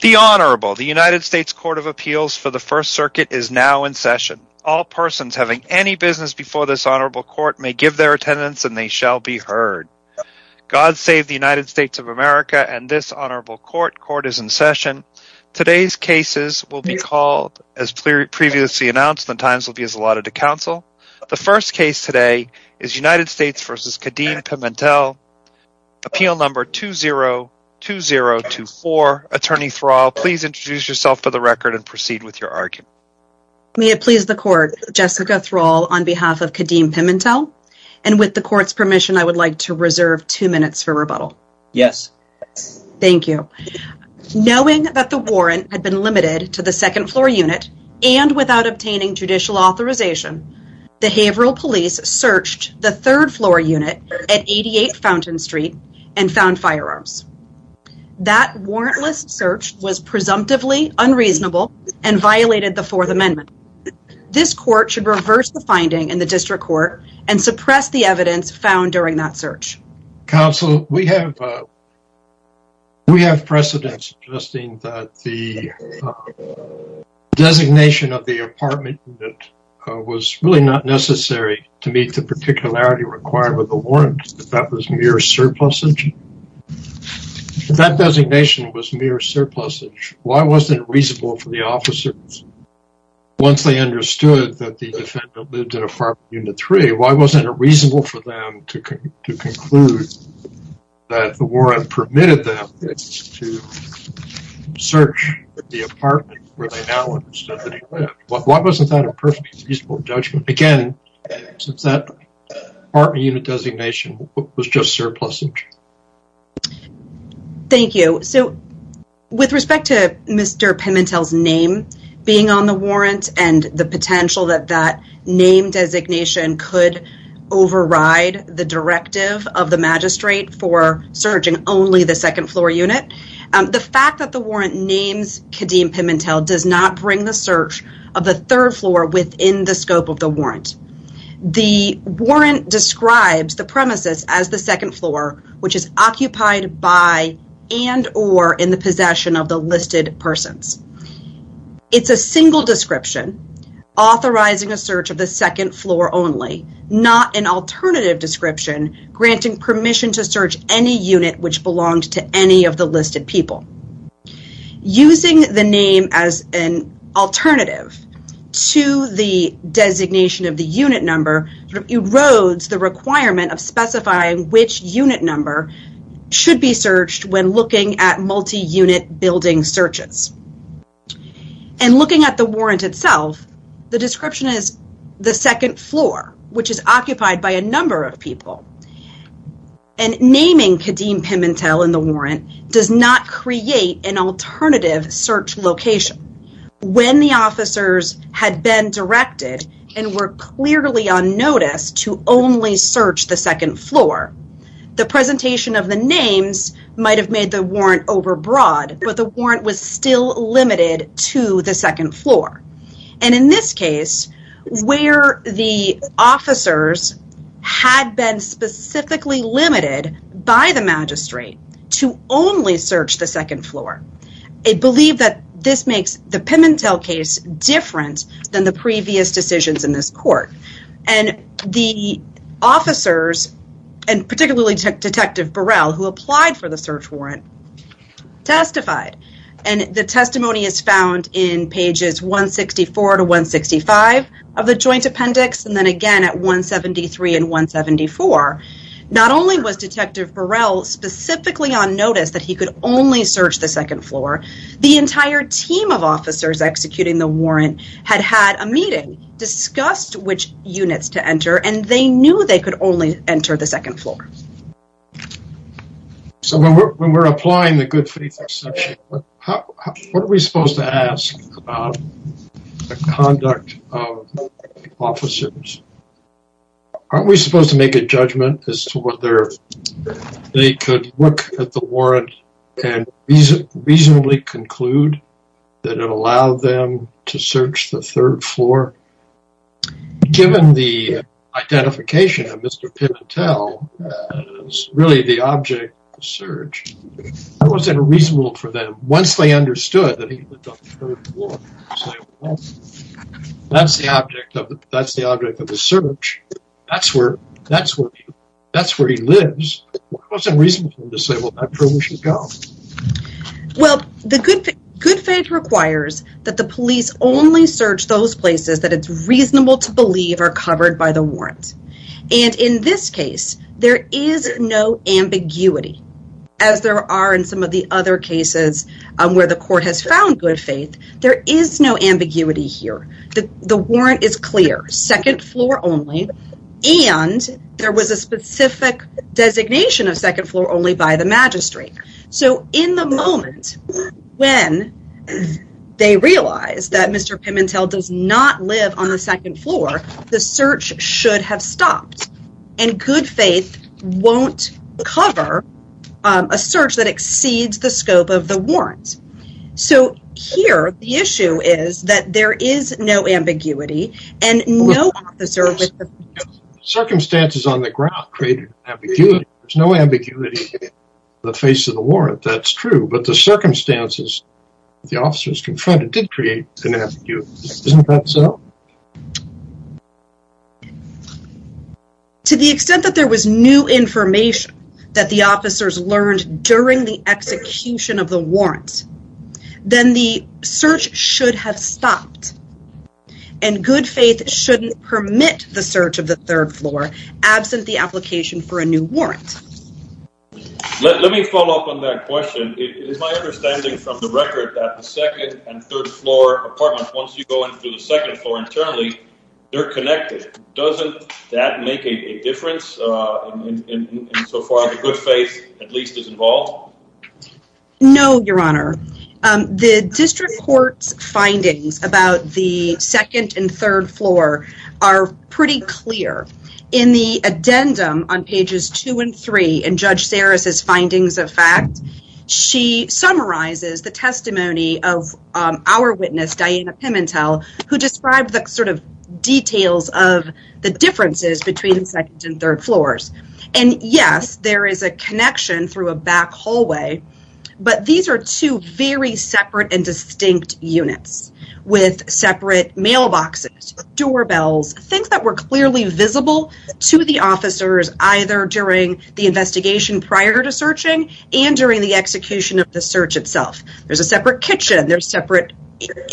The Honorable, the United States Court of Appeals for the First Circuit is now in session. All persons having any business before this Honorable Court may give their attendance and they shall be heard. God save the United States of America and this Honorable Court. Court is in session. Today's cases will be called as previously announced. The times will be as allotted to Please introduce yourself for the record and proceed with your argument. May it please the Court, Jessica Thrall on behalf of Kadeem Pimentel and with the Court's permission I would like to reserve two minutes for rebuttal. Yes. Thank you. Knowing that the warrant had been limited to the second floor unit and without obtaining judicial authorization, behavioral police searched the third floor unit at 88 Fountain Street and found firearms. That warrantless search was presumptively unreasonable and violated the Fourth Amendment. This Court should reverse the finding in the District Court and suppress the evidence found during that search. Counsel, we have we have precedents suggesting that the designation of the apartment unit was really not necessary to meet the particularity required with the warrant if that was mere surplusage? If that designation was mere surplusage, why wasn't it reasonable for the officers once they understood that the defendant lived in apartment unit three? Why wasn't it reasonable for them to conclude that the warrant permitted them to search the apartment where they now understood that he lived? Why wasn't that a perfectly feasible judgment? Again, since that apartment unit designation was just surplusage. Thank you. So with respect to Mr. Pimentel's name being on the warrant and the potential that that name designation could override the directive of the magistrate for searching only the second floor unit, the fact that the warrant names Kadeem Pimentel does not bring the search of the third floor within the the warrant describes the premises as the second floor which is occupied by and or in the possession of the listed persons. It's a single description authorizing a search of the second floor only, not an alternative description granting permission to search any unit which belonged to any of the erodes the requirement of specifying which unit number should be searched when looking at multi-unit building searches. And looking at the warrant itself the description is the second floor which is occupied by a number of people and naming Kadeem Pimentel in the warrant does not create an alternative search location. When the officers had been directed and were clearly on notice to only search the second floor the presentation of the names might have made the warrant overbroad but the warrant was still limited to the second floor and in this case where the officers had been specifically limited by the magistrate to only search the second floor I believe that this makes the Pimentel case different than the previous decisions in this court. And the officers and particularly detective Burrell who applied for the search warrant testified and the testimony is found in pages 164 to 165 of the joint appendix and then again at 173 and 174. Not only was detective Burrell specifically on notice that he could only search the second floor the entire team of officers executing the warrant had had a meeting discussed which units to enter and they knew they could only enter the second floor. So when we're applying the good faith exception what are we supposed to ask about the conduct of officers? Aren't we supposed to make a judgment as to whether they could look at the warrant and reasonably conclude that it allowed them to search the third floor? Given the identification of Mr. Pimentel as really the object of the search that wasn't reasonable for them once they understood that he lived on the third floor. That's the object of that's the object of the search that's where that's where that's where he lives. It wasn't reasonable to say well that's where we should go. Well the good faith requires that the police only search those places that it's reasonable to believe are covered by the warrant and in this case there is no ambiguity as there are in some of the other cases where the court has found good faith there is no ambiguity here. The warrant is clear second floor only and there was a specific designation of second floor only by the magistrate. So in the moment when they realize that Mr. Pimentel does not live on the second floor the search should have stopped and good faith won't cover a search that exceeds the scope of the warrant. So here the issue is that there is no ambiguity and no officer circumstances on the ground created an ambiguity there's no ambiguity the face of the warrant that's true but the circumstances the officers confronted did create an ambiguity isn't that so? To the extent that there was new information that the officers learned during the execution of the good faith shouldn't permit the search of the third floor absent the application for a new warrant. Let me follow up on that question it is my understanding from the record that the second and third floor apartment once you go into the second floor internally they're connected doesn't that make a difference in so far the good faith at least is involved? No your honor the district court's findings about the second and third floor are pretty clear in the addendum on pages two and three in Judge Saris's findings of fact she summarizes the testimony of our witness Diana Pimentel who described the sort of details of the differences between the second and third floors and yes there is a connection through a back hallway but these are two very separate and distinct units with separate mailboxes doorbells things that were clearly visible to the officers either during the investigation prior to searching and during the execution of the search itself there's a separate kitchen there's separate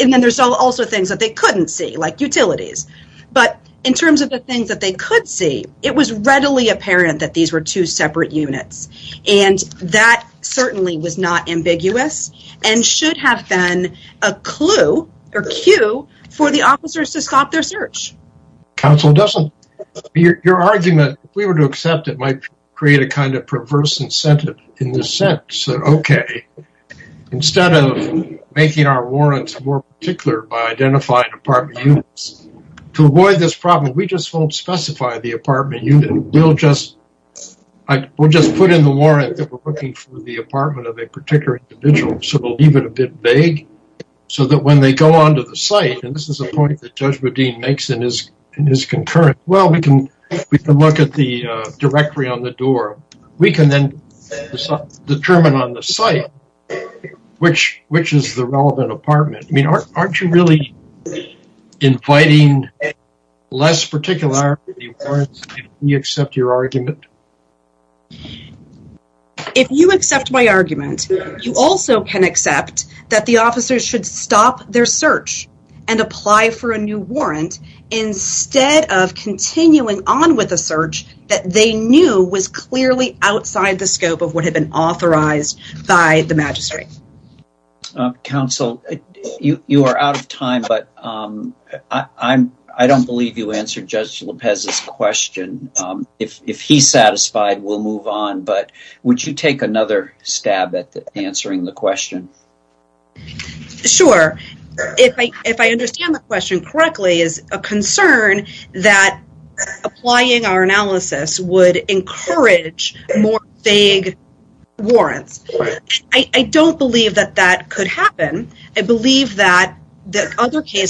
and then there's also things that they couldn't see like utilities but in terms of the things that they could see it was readily apparent that these were two separate units and that certainly was not ambiguous and should have been a clue or cue for the officers to stop their search. Counselor Dessler your argument if we were to accept it might create a kind of perverse incentive in the sense that okay instead of making our warrants more particular by identifying apartment units to avoid this problem we just won't specify the apartment unit we'll just we'll just put in the warrant that we're looking for the apartment of a particular individual so we'll leave it a bit vague so that when they go on to the site and this is a point that Judge Radin makes in his in his concurrent well we can we can look at the I mean aren't you really inviting less particularity if we accept your argument? If you accept my argument you also can accept that the officers should stop their search and apply for a new warrant instead of continuing on with a search that they knew was clearly outside the You are out of time but I don't believe you answered Judge Lopez's question. If he's satisfied we'll move on but would you take another stab at answering the question? Sure if I understand the question correctly is a concern that applying our analysis would the other case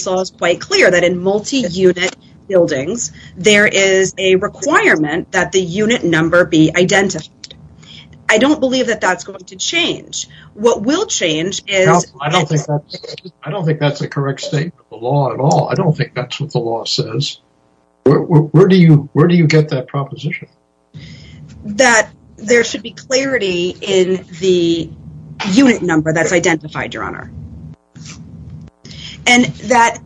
law is quite clear that in multi-unit buildings there is a requirement that the unit number be identified I don't believe that that's going to change what will change is I don't think that's a correct statement of the law at all I don't think that's what the law says where do you where do you get that proposition? That there should be clarity in the unit number that's identified your honor. And that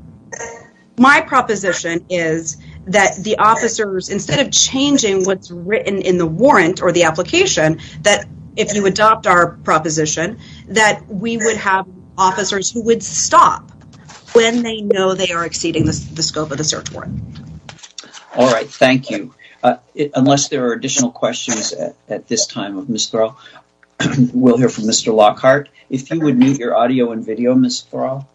my proposition is that the officers instead of changing what's written in the warrant or the application that if you adopt our proposition that we would have officers who would stop when they know they are exceeding the scope of the search warrant. All right thank you unless there are additional questions at this time of Ms. Thurl we'll hear Mr. Lockhart if you would mute your audio and video Ms. Thurl.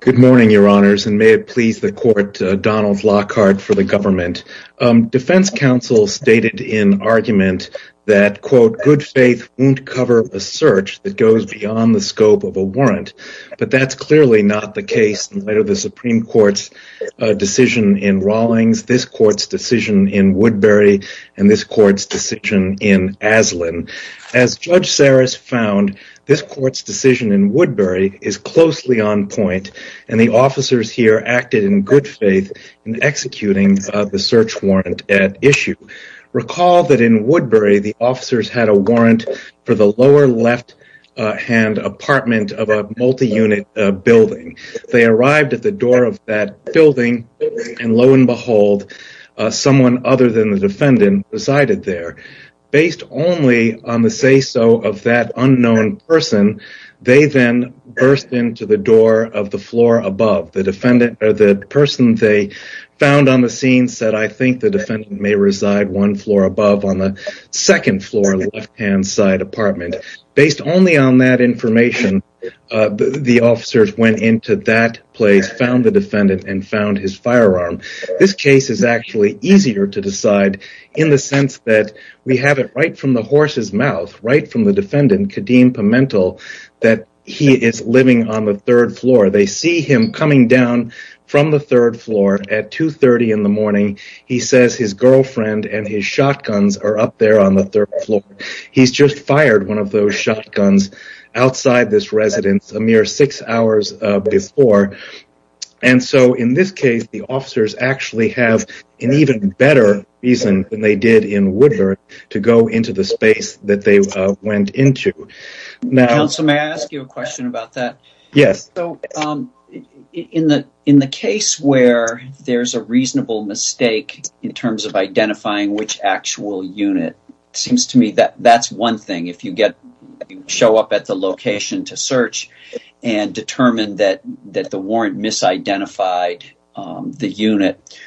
Good morning your honors and may it please the court Donald Lockhart for the government. Defense counsel stated in argument that quote good faith won't cover a search that goes beyond the scope of a warrant but that's clearly not the case in light of the Supreme Court's in Rawlings this court's decision in Woodbury and this court's decision in Aslan. As Judge Saris found this court's decision in Woodbury is closely on point and the officers here acted in good faith in executing the search warrant at issue. Recall that in Woodbury the officers had a warrant for the lower left hand apartment of a multi-unit building. They arrived at the door of that building and lo and behold someone other than the defendant resided there. Based only on the say-so of that unknown person they then burst into the door of the floor above the defendant or the person they found on the scene said I think the defendant may reside one floor above on the second floor left hand side apartment. Based only on that information the officers went into that place found the defendant and found his firearm. This case is actually easier to decide in the sense that we have it right from the horse's mouth right from the defendant Kadeem Pimentel that he is living on the third floor. They see him coming down from the third floor at 2 30 in the morning he says his girlfriend and his shotguns are up on the third floor. He's just fired one of those shotguns outside this residence a mere six hours before and so in this case the officers actually have an even better reason than they did in Woodbury to go into the space that they went into. Counsel may I ask you a question about that? Yes. So in the in the case where there's a reasonable mistake in terms of identifying which actual unit seems to me that that's one thing if you get show up at the location to search and determine that that the warrant misidentified the unit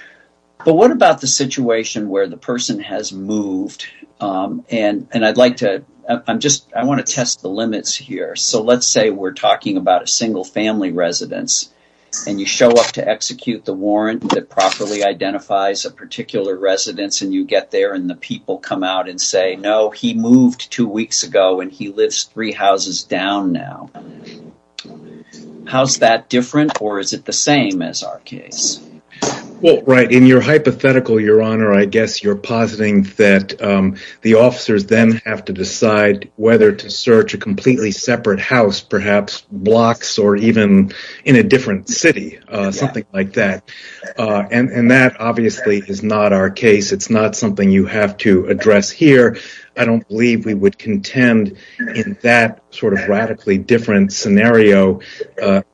but what about the situation where the person has moved and and I'd like to I'm just I want to test the limits here so let's say we're talking about a single family residence and you show up to execute the warrant that properly identifies a particular residence and you get there and the people come out and say no he moved two weeks ago and he lives three houses down now how's that different or is it the same as our case? Well right in your hypothetical your honor I guess you're positing that the officers then have to decide whether to search a completely separate house perhaps blocks or even in a different city something like that and that obviously is not our case it's not something you have to address here I don't believe we would contend in that sort of radically different scenario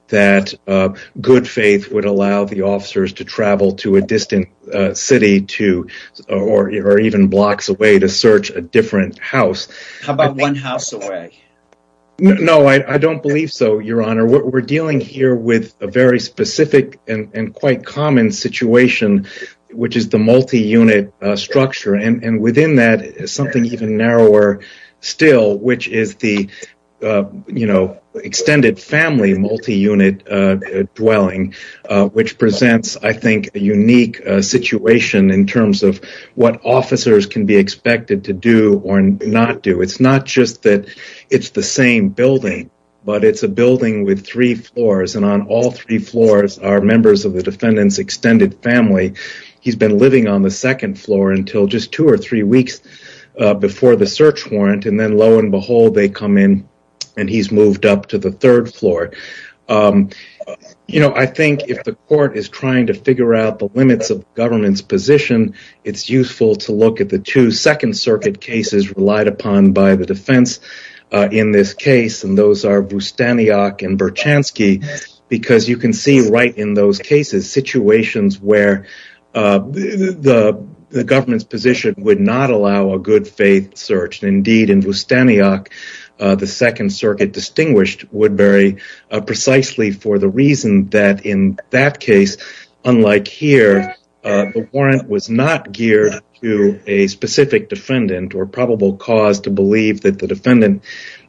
that good faith would allow the officers to travel to a distant city to or even blocks away to search a different house. How about one house away? No I don't believe so your honor what we're dealing here with a very specific and quite common situation which is the multi-unit structure and and within that something even narrower still which is the you know extended family multi-unit dwelling which presents I think a unique situation in terms of what officers can be expected to do or not do it's not just that it's the same building but it's a building with three floors and on all three floors are members of the defendant's extended family he's been living on the second floor until just two or three weeks before the search warrant and then lo and behold they come in and he's moved up to the third floor you know I think if the court is trying to figure out the limits of government's position it's useful to look at the two second circuit cases relied upon by the defense in this case and those are Bustaniak and Berchanski because you can see right in those cases situations where the government's position would not allow a good faith search indeed in Bustaniak the second circuit distinguished Woodbury precisely for the reason that in that case unlike here the warrant was not geared to a specific defendant or probable cause to believe that the defendant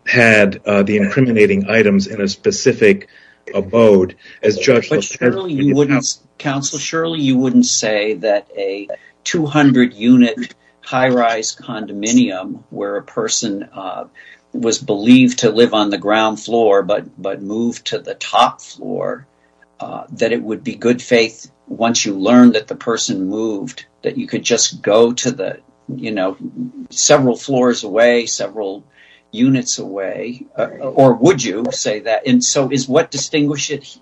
had the incriminating items in a specific abode as judge but surely you wouldn't counsel surely you wouldn't say that a 200 unit high-rise condominium where a person was believed to live on the ground floor but but moved to the top floor that it would be good faith once you learn that the person moved that you could just go to the you know several floors away several units away or would you say that and so is what distinguishes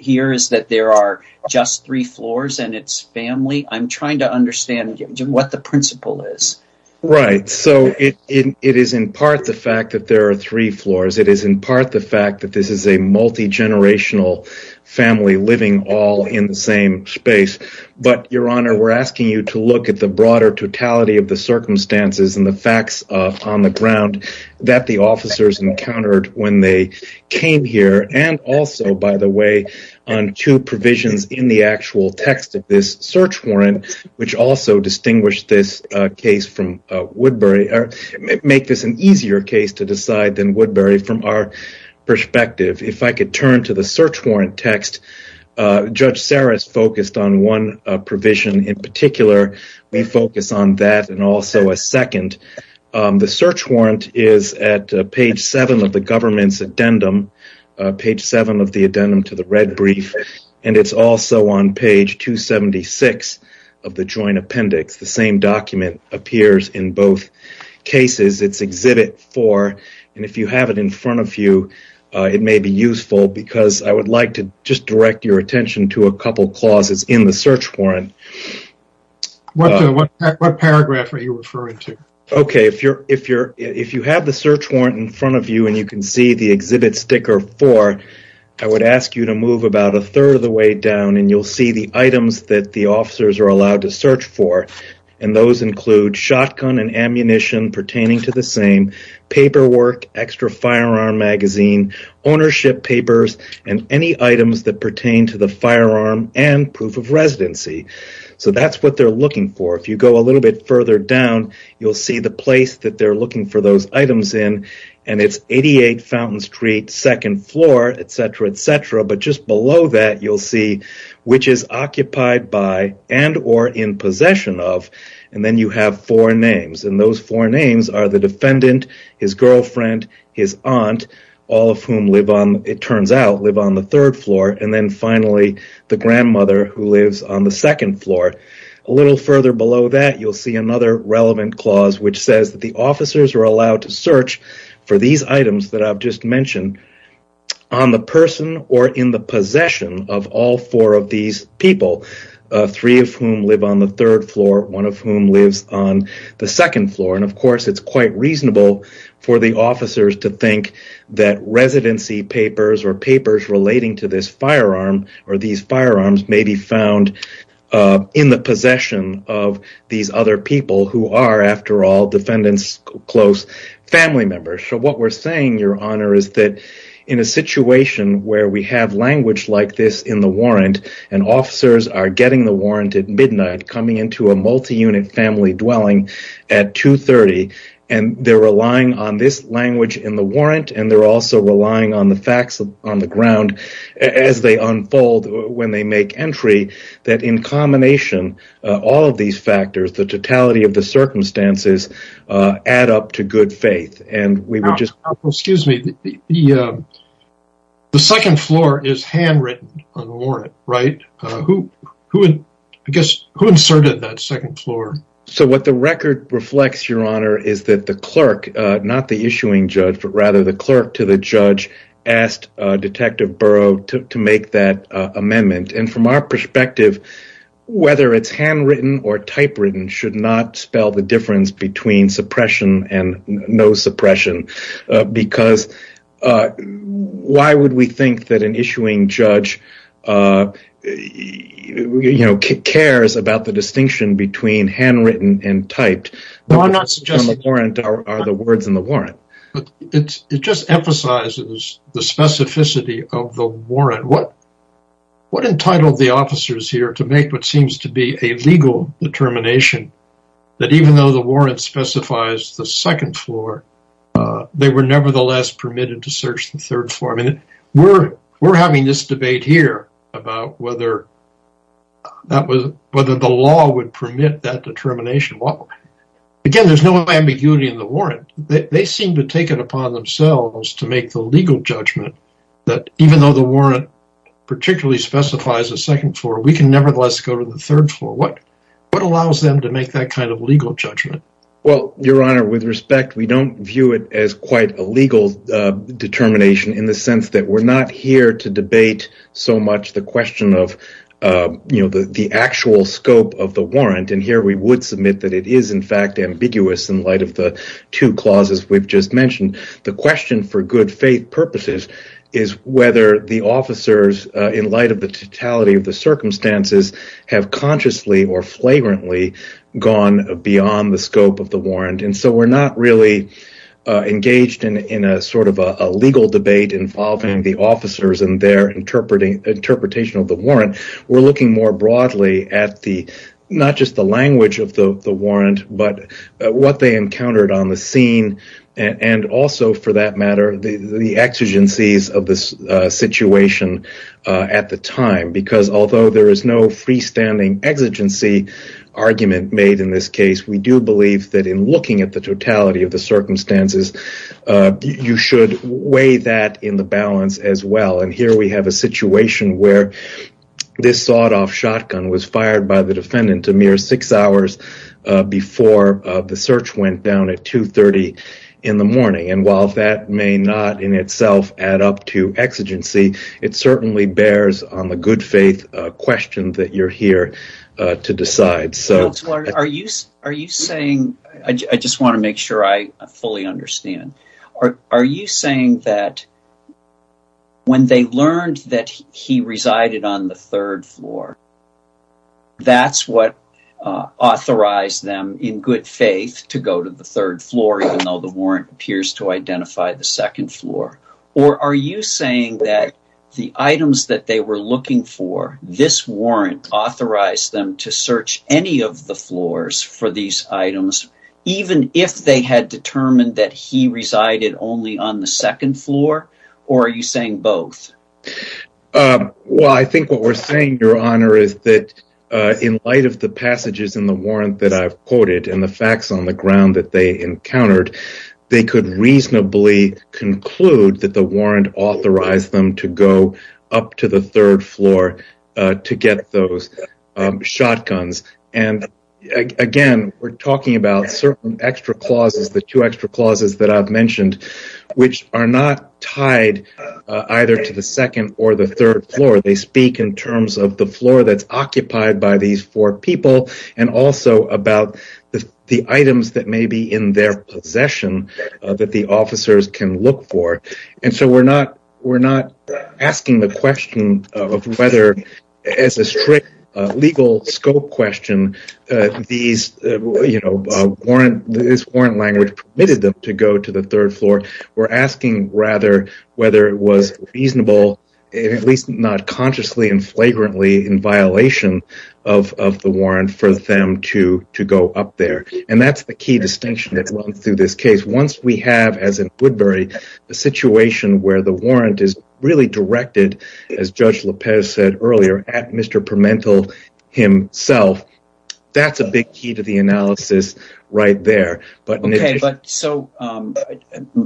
here is that there are just three floors and it's family I'm trying to understand what the principle is right so it is in part the fact that there are three floors it is in part the fact that this is a multi-generational family living all in the same space but your honor we're asking you to look at the broader totality of the circumstances and the facts on the ground that the officers encountered when they came here and also by the way on two provisions in the actual text of this search warrant which also distinguished this case from Woodbury or make this an easier case to decide than Woodbury from our perspective if I could turn to the search warrant text judge Saris focused on one provision in particular we focus on that and also a second the search warrant is at page seven of the government's addendum page seven of the addendum to the red brief and it's also on page 276 of the joint appendix the same document appears in both cases it's exhibit four and if you have it in front of you it may be useful because I would like to just direct your attention to a couple clauses in the search warrant what paragraph are you referring to okay if you're if you're if you have the search warrant in front of you and you can see the exhibit sticker four I would ask you to move about a third of the way down and you'll see the items that the officers are allowed to search for and those include shotgun and ammunition pertaining to the same paperwork extra firearm magazine ownership papers and any items that pertain to the firearm and proof of residency so that's what they're looking for if you go a little bit further down you'll see the place that they're looking for those items in and it's 88 Fountain Street second floor etc etc but just below that you'll see which is occupied by and or in possession of and then you have four names and those four names are the defendant his girlfriend his aunt all of whom live on it turns out live on the third floor and then finally the grandmother who lives on the second floor a little further below that you'll see another relevant clause which says that the officers are allowed to search for these items that I've just mentioned on the person or in the possession of all four of these people three of whom live on the third floor one of whom lives on the second floor and of course it's quite reasonable for the officers to think that residency papers or papers relating to this firearm or these firearms may be found in the possession of these other people who are after all defendants close family members so what we're saying your honor is that in a situation where we have language like this in the warrant and officers are getting the warrant at midnight coming into a multi-unit family dwelling at 2 30 and they're relying on this language in the warrant and they're also relying on the facts on the ground as they unfold when they make entry that in combination all of these factors the totality of the circumstances add up to good faith and we were just excuse me the second floor is handwritten on the warrant right who who would I guess who inserted that second floor so what the record reflects your honor is that the clerk not the issuing judge but rather the clerk to the judge asked detective burrow to make that amendment and from our perspective whether it's handwritten or suppression and no suppression uh because uh why would we think that an issuing judge uh you know cares about the distinction between handwritten and typed no I'm not suggesting the warrant are the words in the warrant but it's it just emphasizes the specificity of the warrant what what entitled the officers here to make what seems to be a legal determination that even though the warrant specifies the second floor uh they were nevertheless permitted to search the third floor I mean we're we're having this debate here about whether that was whether the law would permit that determination well again there's no ambiguity in the warrant they seem to take it upon themselves to make the legal judgment that even though the warrant particularly specifies a second floor we can nevertheless go to the third floor what allows them to make that kind of legal judgment well your honor with respect we don't view it as quite a legal determination in the sense that we're not here to debate so much the question of you know the actual scope of the warrant and here we would submit that it is in fact ambiguous in light of the two clauses we've just mentioned the question for good faith purposes is whether the officers in light of the totality of the circumstances have consciously or flagrantly gone beyond the scope of the warrant and so we're not really engaged in in a sort of a legal debate involving the officers and their interpreting interpretation of the warrant we're looking more broadly at the not just the language of the the warrant but what they encountered on the scene and also for that matter the the exigencies of this situation at the time because although there is no freestanding exigency argument made in this case we do believe that in looking at the totality of the circumstances you should weigh that in the balance as well and here we have a situation where this sawed-off shotgun was fired by the defendant a mere six hours before the search went down at 2 30 in the morning and while that may not in itself add up to exigency it certainly bears on the good faith question that you're here to decide so are you are you saying i just want to make sure i fully understand are are you saying that when they learned that he resided on the floor even though the warrant appears to identify the second floor or are you saying that the items that they were looking for this warrant authorized them to search any of the floors for these items even if they had determined that he resided only on the second floor or are you saying both um well i think what we're saying your honor is that uh in light of the passages in the warrant that i've quoted and the facts on the ground that they encountered they could reasonably conclude that the warrant authorized them to go up to the third floor to get those shotguns and again we're talking about certain extra clauses the two extra clauses that i've mentioned which are not tied either to the second or the third floor they speak in terms of the floor that's occupied by these four people and also about the items that may be in their possession that the officers can look for and so we're not we're not asking the question of whether as a strict legal scope question uh these you know warrant this warrant language permitted them to go to the third floor we're asking rather whether it was reasonable at least not consciously and flagrantly in violation of of the warrant for them to to go up there and that's the key distinction that runs through this case once we have as in woodbury a situation where the warrant is really directed as judge lapez said earlier at mr pimento himself that's a big key to the analysis right there but okay but so um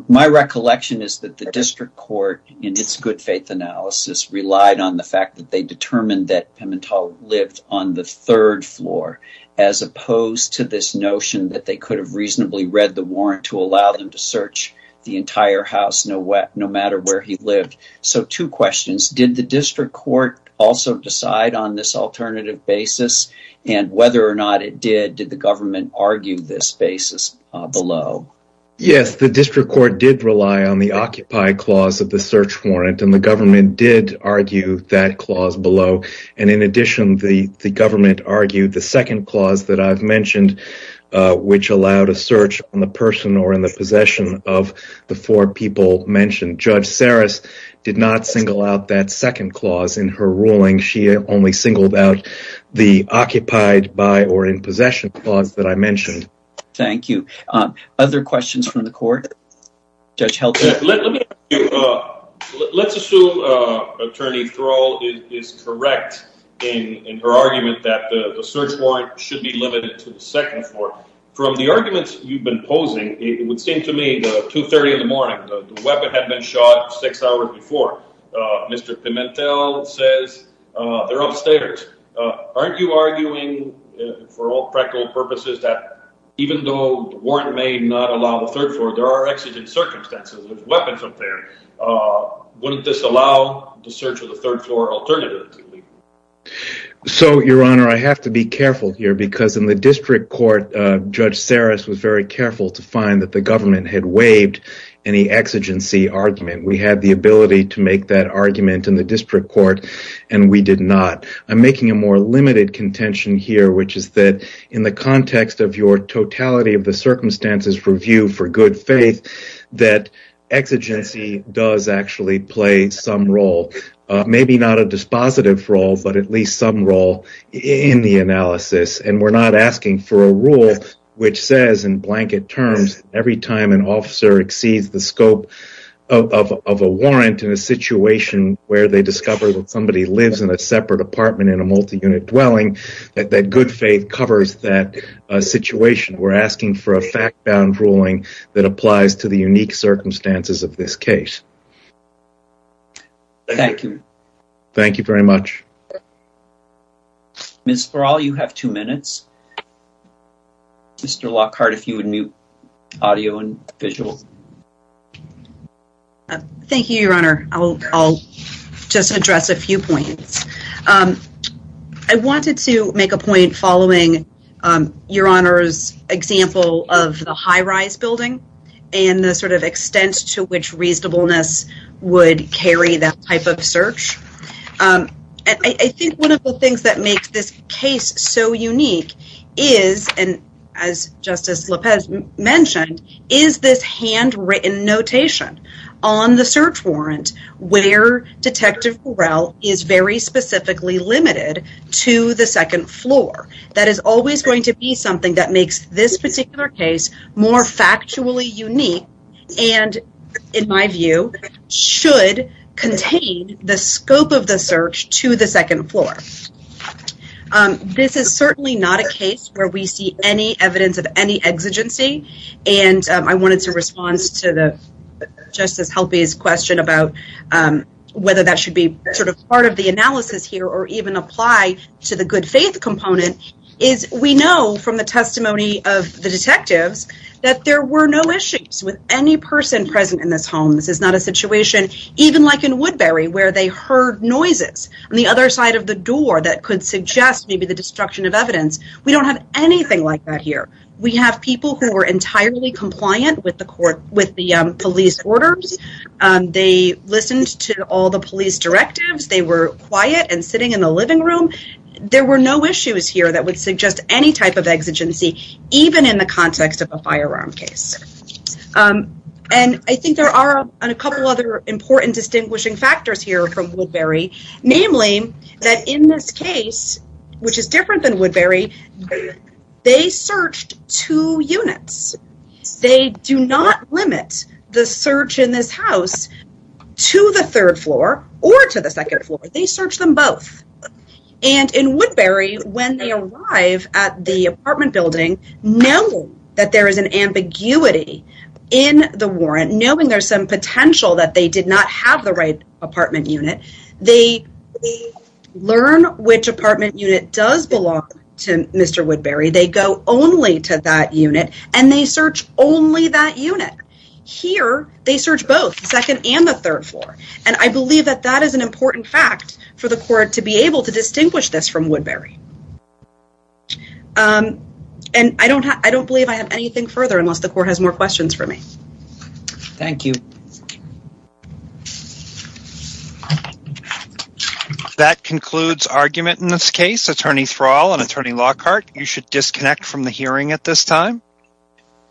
my recollection is that the district court in its good faith analysis relied on the fact that they determined that pimento lived on the third floor as opposed to this notion that they could have reasonably read the warrant to allow them to search the entire house no wet no matter where he lived so two questions did the district court also decide on this alternative basis and whether or not it did did the government argue this basis below yes the district court did rely on the below and in addition the the government argued the second clause that i've mentioned which allowed a search on the person or in the possession of the four people mentioned judge saris did not single out that second clause in her ruling she only singled out the occupied by or in possession clause that i mentioned thank you um other questions from the court judge help let me uh let's assume uh attorney thrall is correct in in her argument that the search warrant should be limited to the second floor from the arguments you've been posing it would seem to me the 2 30 in the morning the weapon had been shot six hours before uh mr pimentel says uh they're upstairs uh aren't you arguing for all practical purposes that even though warrant may not allow the third floor there are exigent circumstances with weapons up there uh wouldn't this allow the search of the third floor alternatively so your honor i have to be careful here because in the district court uh judge saris was very careful to find that the government had waived any exigency argument we had the ability to make that argument in the district court and we did not i'm making a more limited contention here which is that in the context of your totality of the circumstances review for good faith that exigency does actually play some role maybe not a dispositive role but at least some role in the analysis and we're not asking for a rule which says in blanket terms every time an officer exceeds the scope of of a warrant in a situation where they discover that somebody lives in a separate apartment in a multi-unit dwelling that good faith covers that situation we're asking for a fact-bound ruling that applies to the unique circumstances of this case thank you thank you very much miss for all you have two minutes mr lockhart if you would mute audio and visual uh thank you your honor i'll i'll just address a few points um i wanted to make a point following um your honor's example of the high-rise building and the sort of extent to which reasonableness would carry that type of search um i think one of the things that makes this case so unique is and as justice lapez mentioned is this handwritten notation on the search warrant where detective corral is very specifically limited to the second floor that is always going to be something that makes this particular case more factually unique and in my view should contain the scope of the search to the second floor um this is certainly not a case where we see any evidence of any exigency and i wanted to response to the justice help his question about um whether that should be sort of part of the analysis here or even apply to the good faith component is we know from the testimony of the detectives that there were no issues with any person present in this home this is not a situation even like in woodbury where they heard noises on the other side of the door that could suggest maybe the destruction of evidence we don't have anything like that here we have people who were entirely compliant with the court with the police orders they listened to all the police directives they were quiet and sitting in the living room there were no issues here that would suggest any type of exigency even in the context of a firearm case um and i think there are a couple other important distinguishing factors here from woodbury namely that in this case which is different than woodbury they searched two units they do not limit the search in this house to the third floor or to the second floor they when they arrive at the apartment building knowing that there is an ambiguity in the warrant knowing there's some potential that they did not have the right apartment unit they learn which apartment unit does belong to mr woodbury they go only to that unit and they search only that unit here they search both second and the third floor and i believe that that is an exception from woodbury um and i don't i don't believe i have anything further unless the court has more questions for me thank you that concludes argument in this case attorney thrall and attorney lockhart you should disconnect from the hearing at this time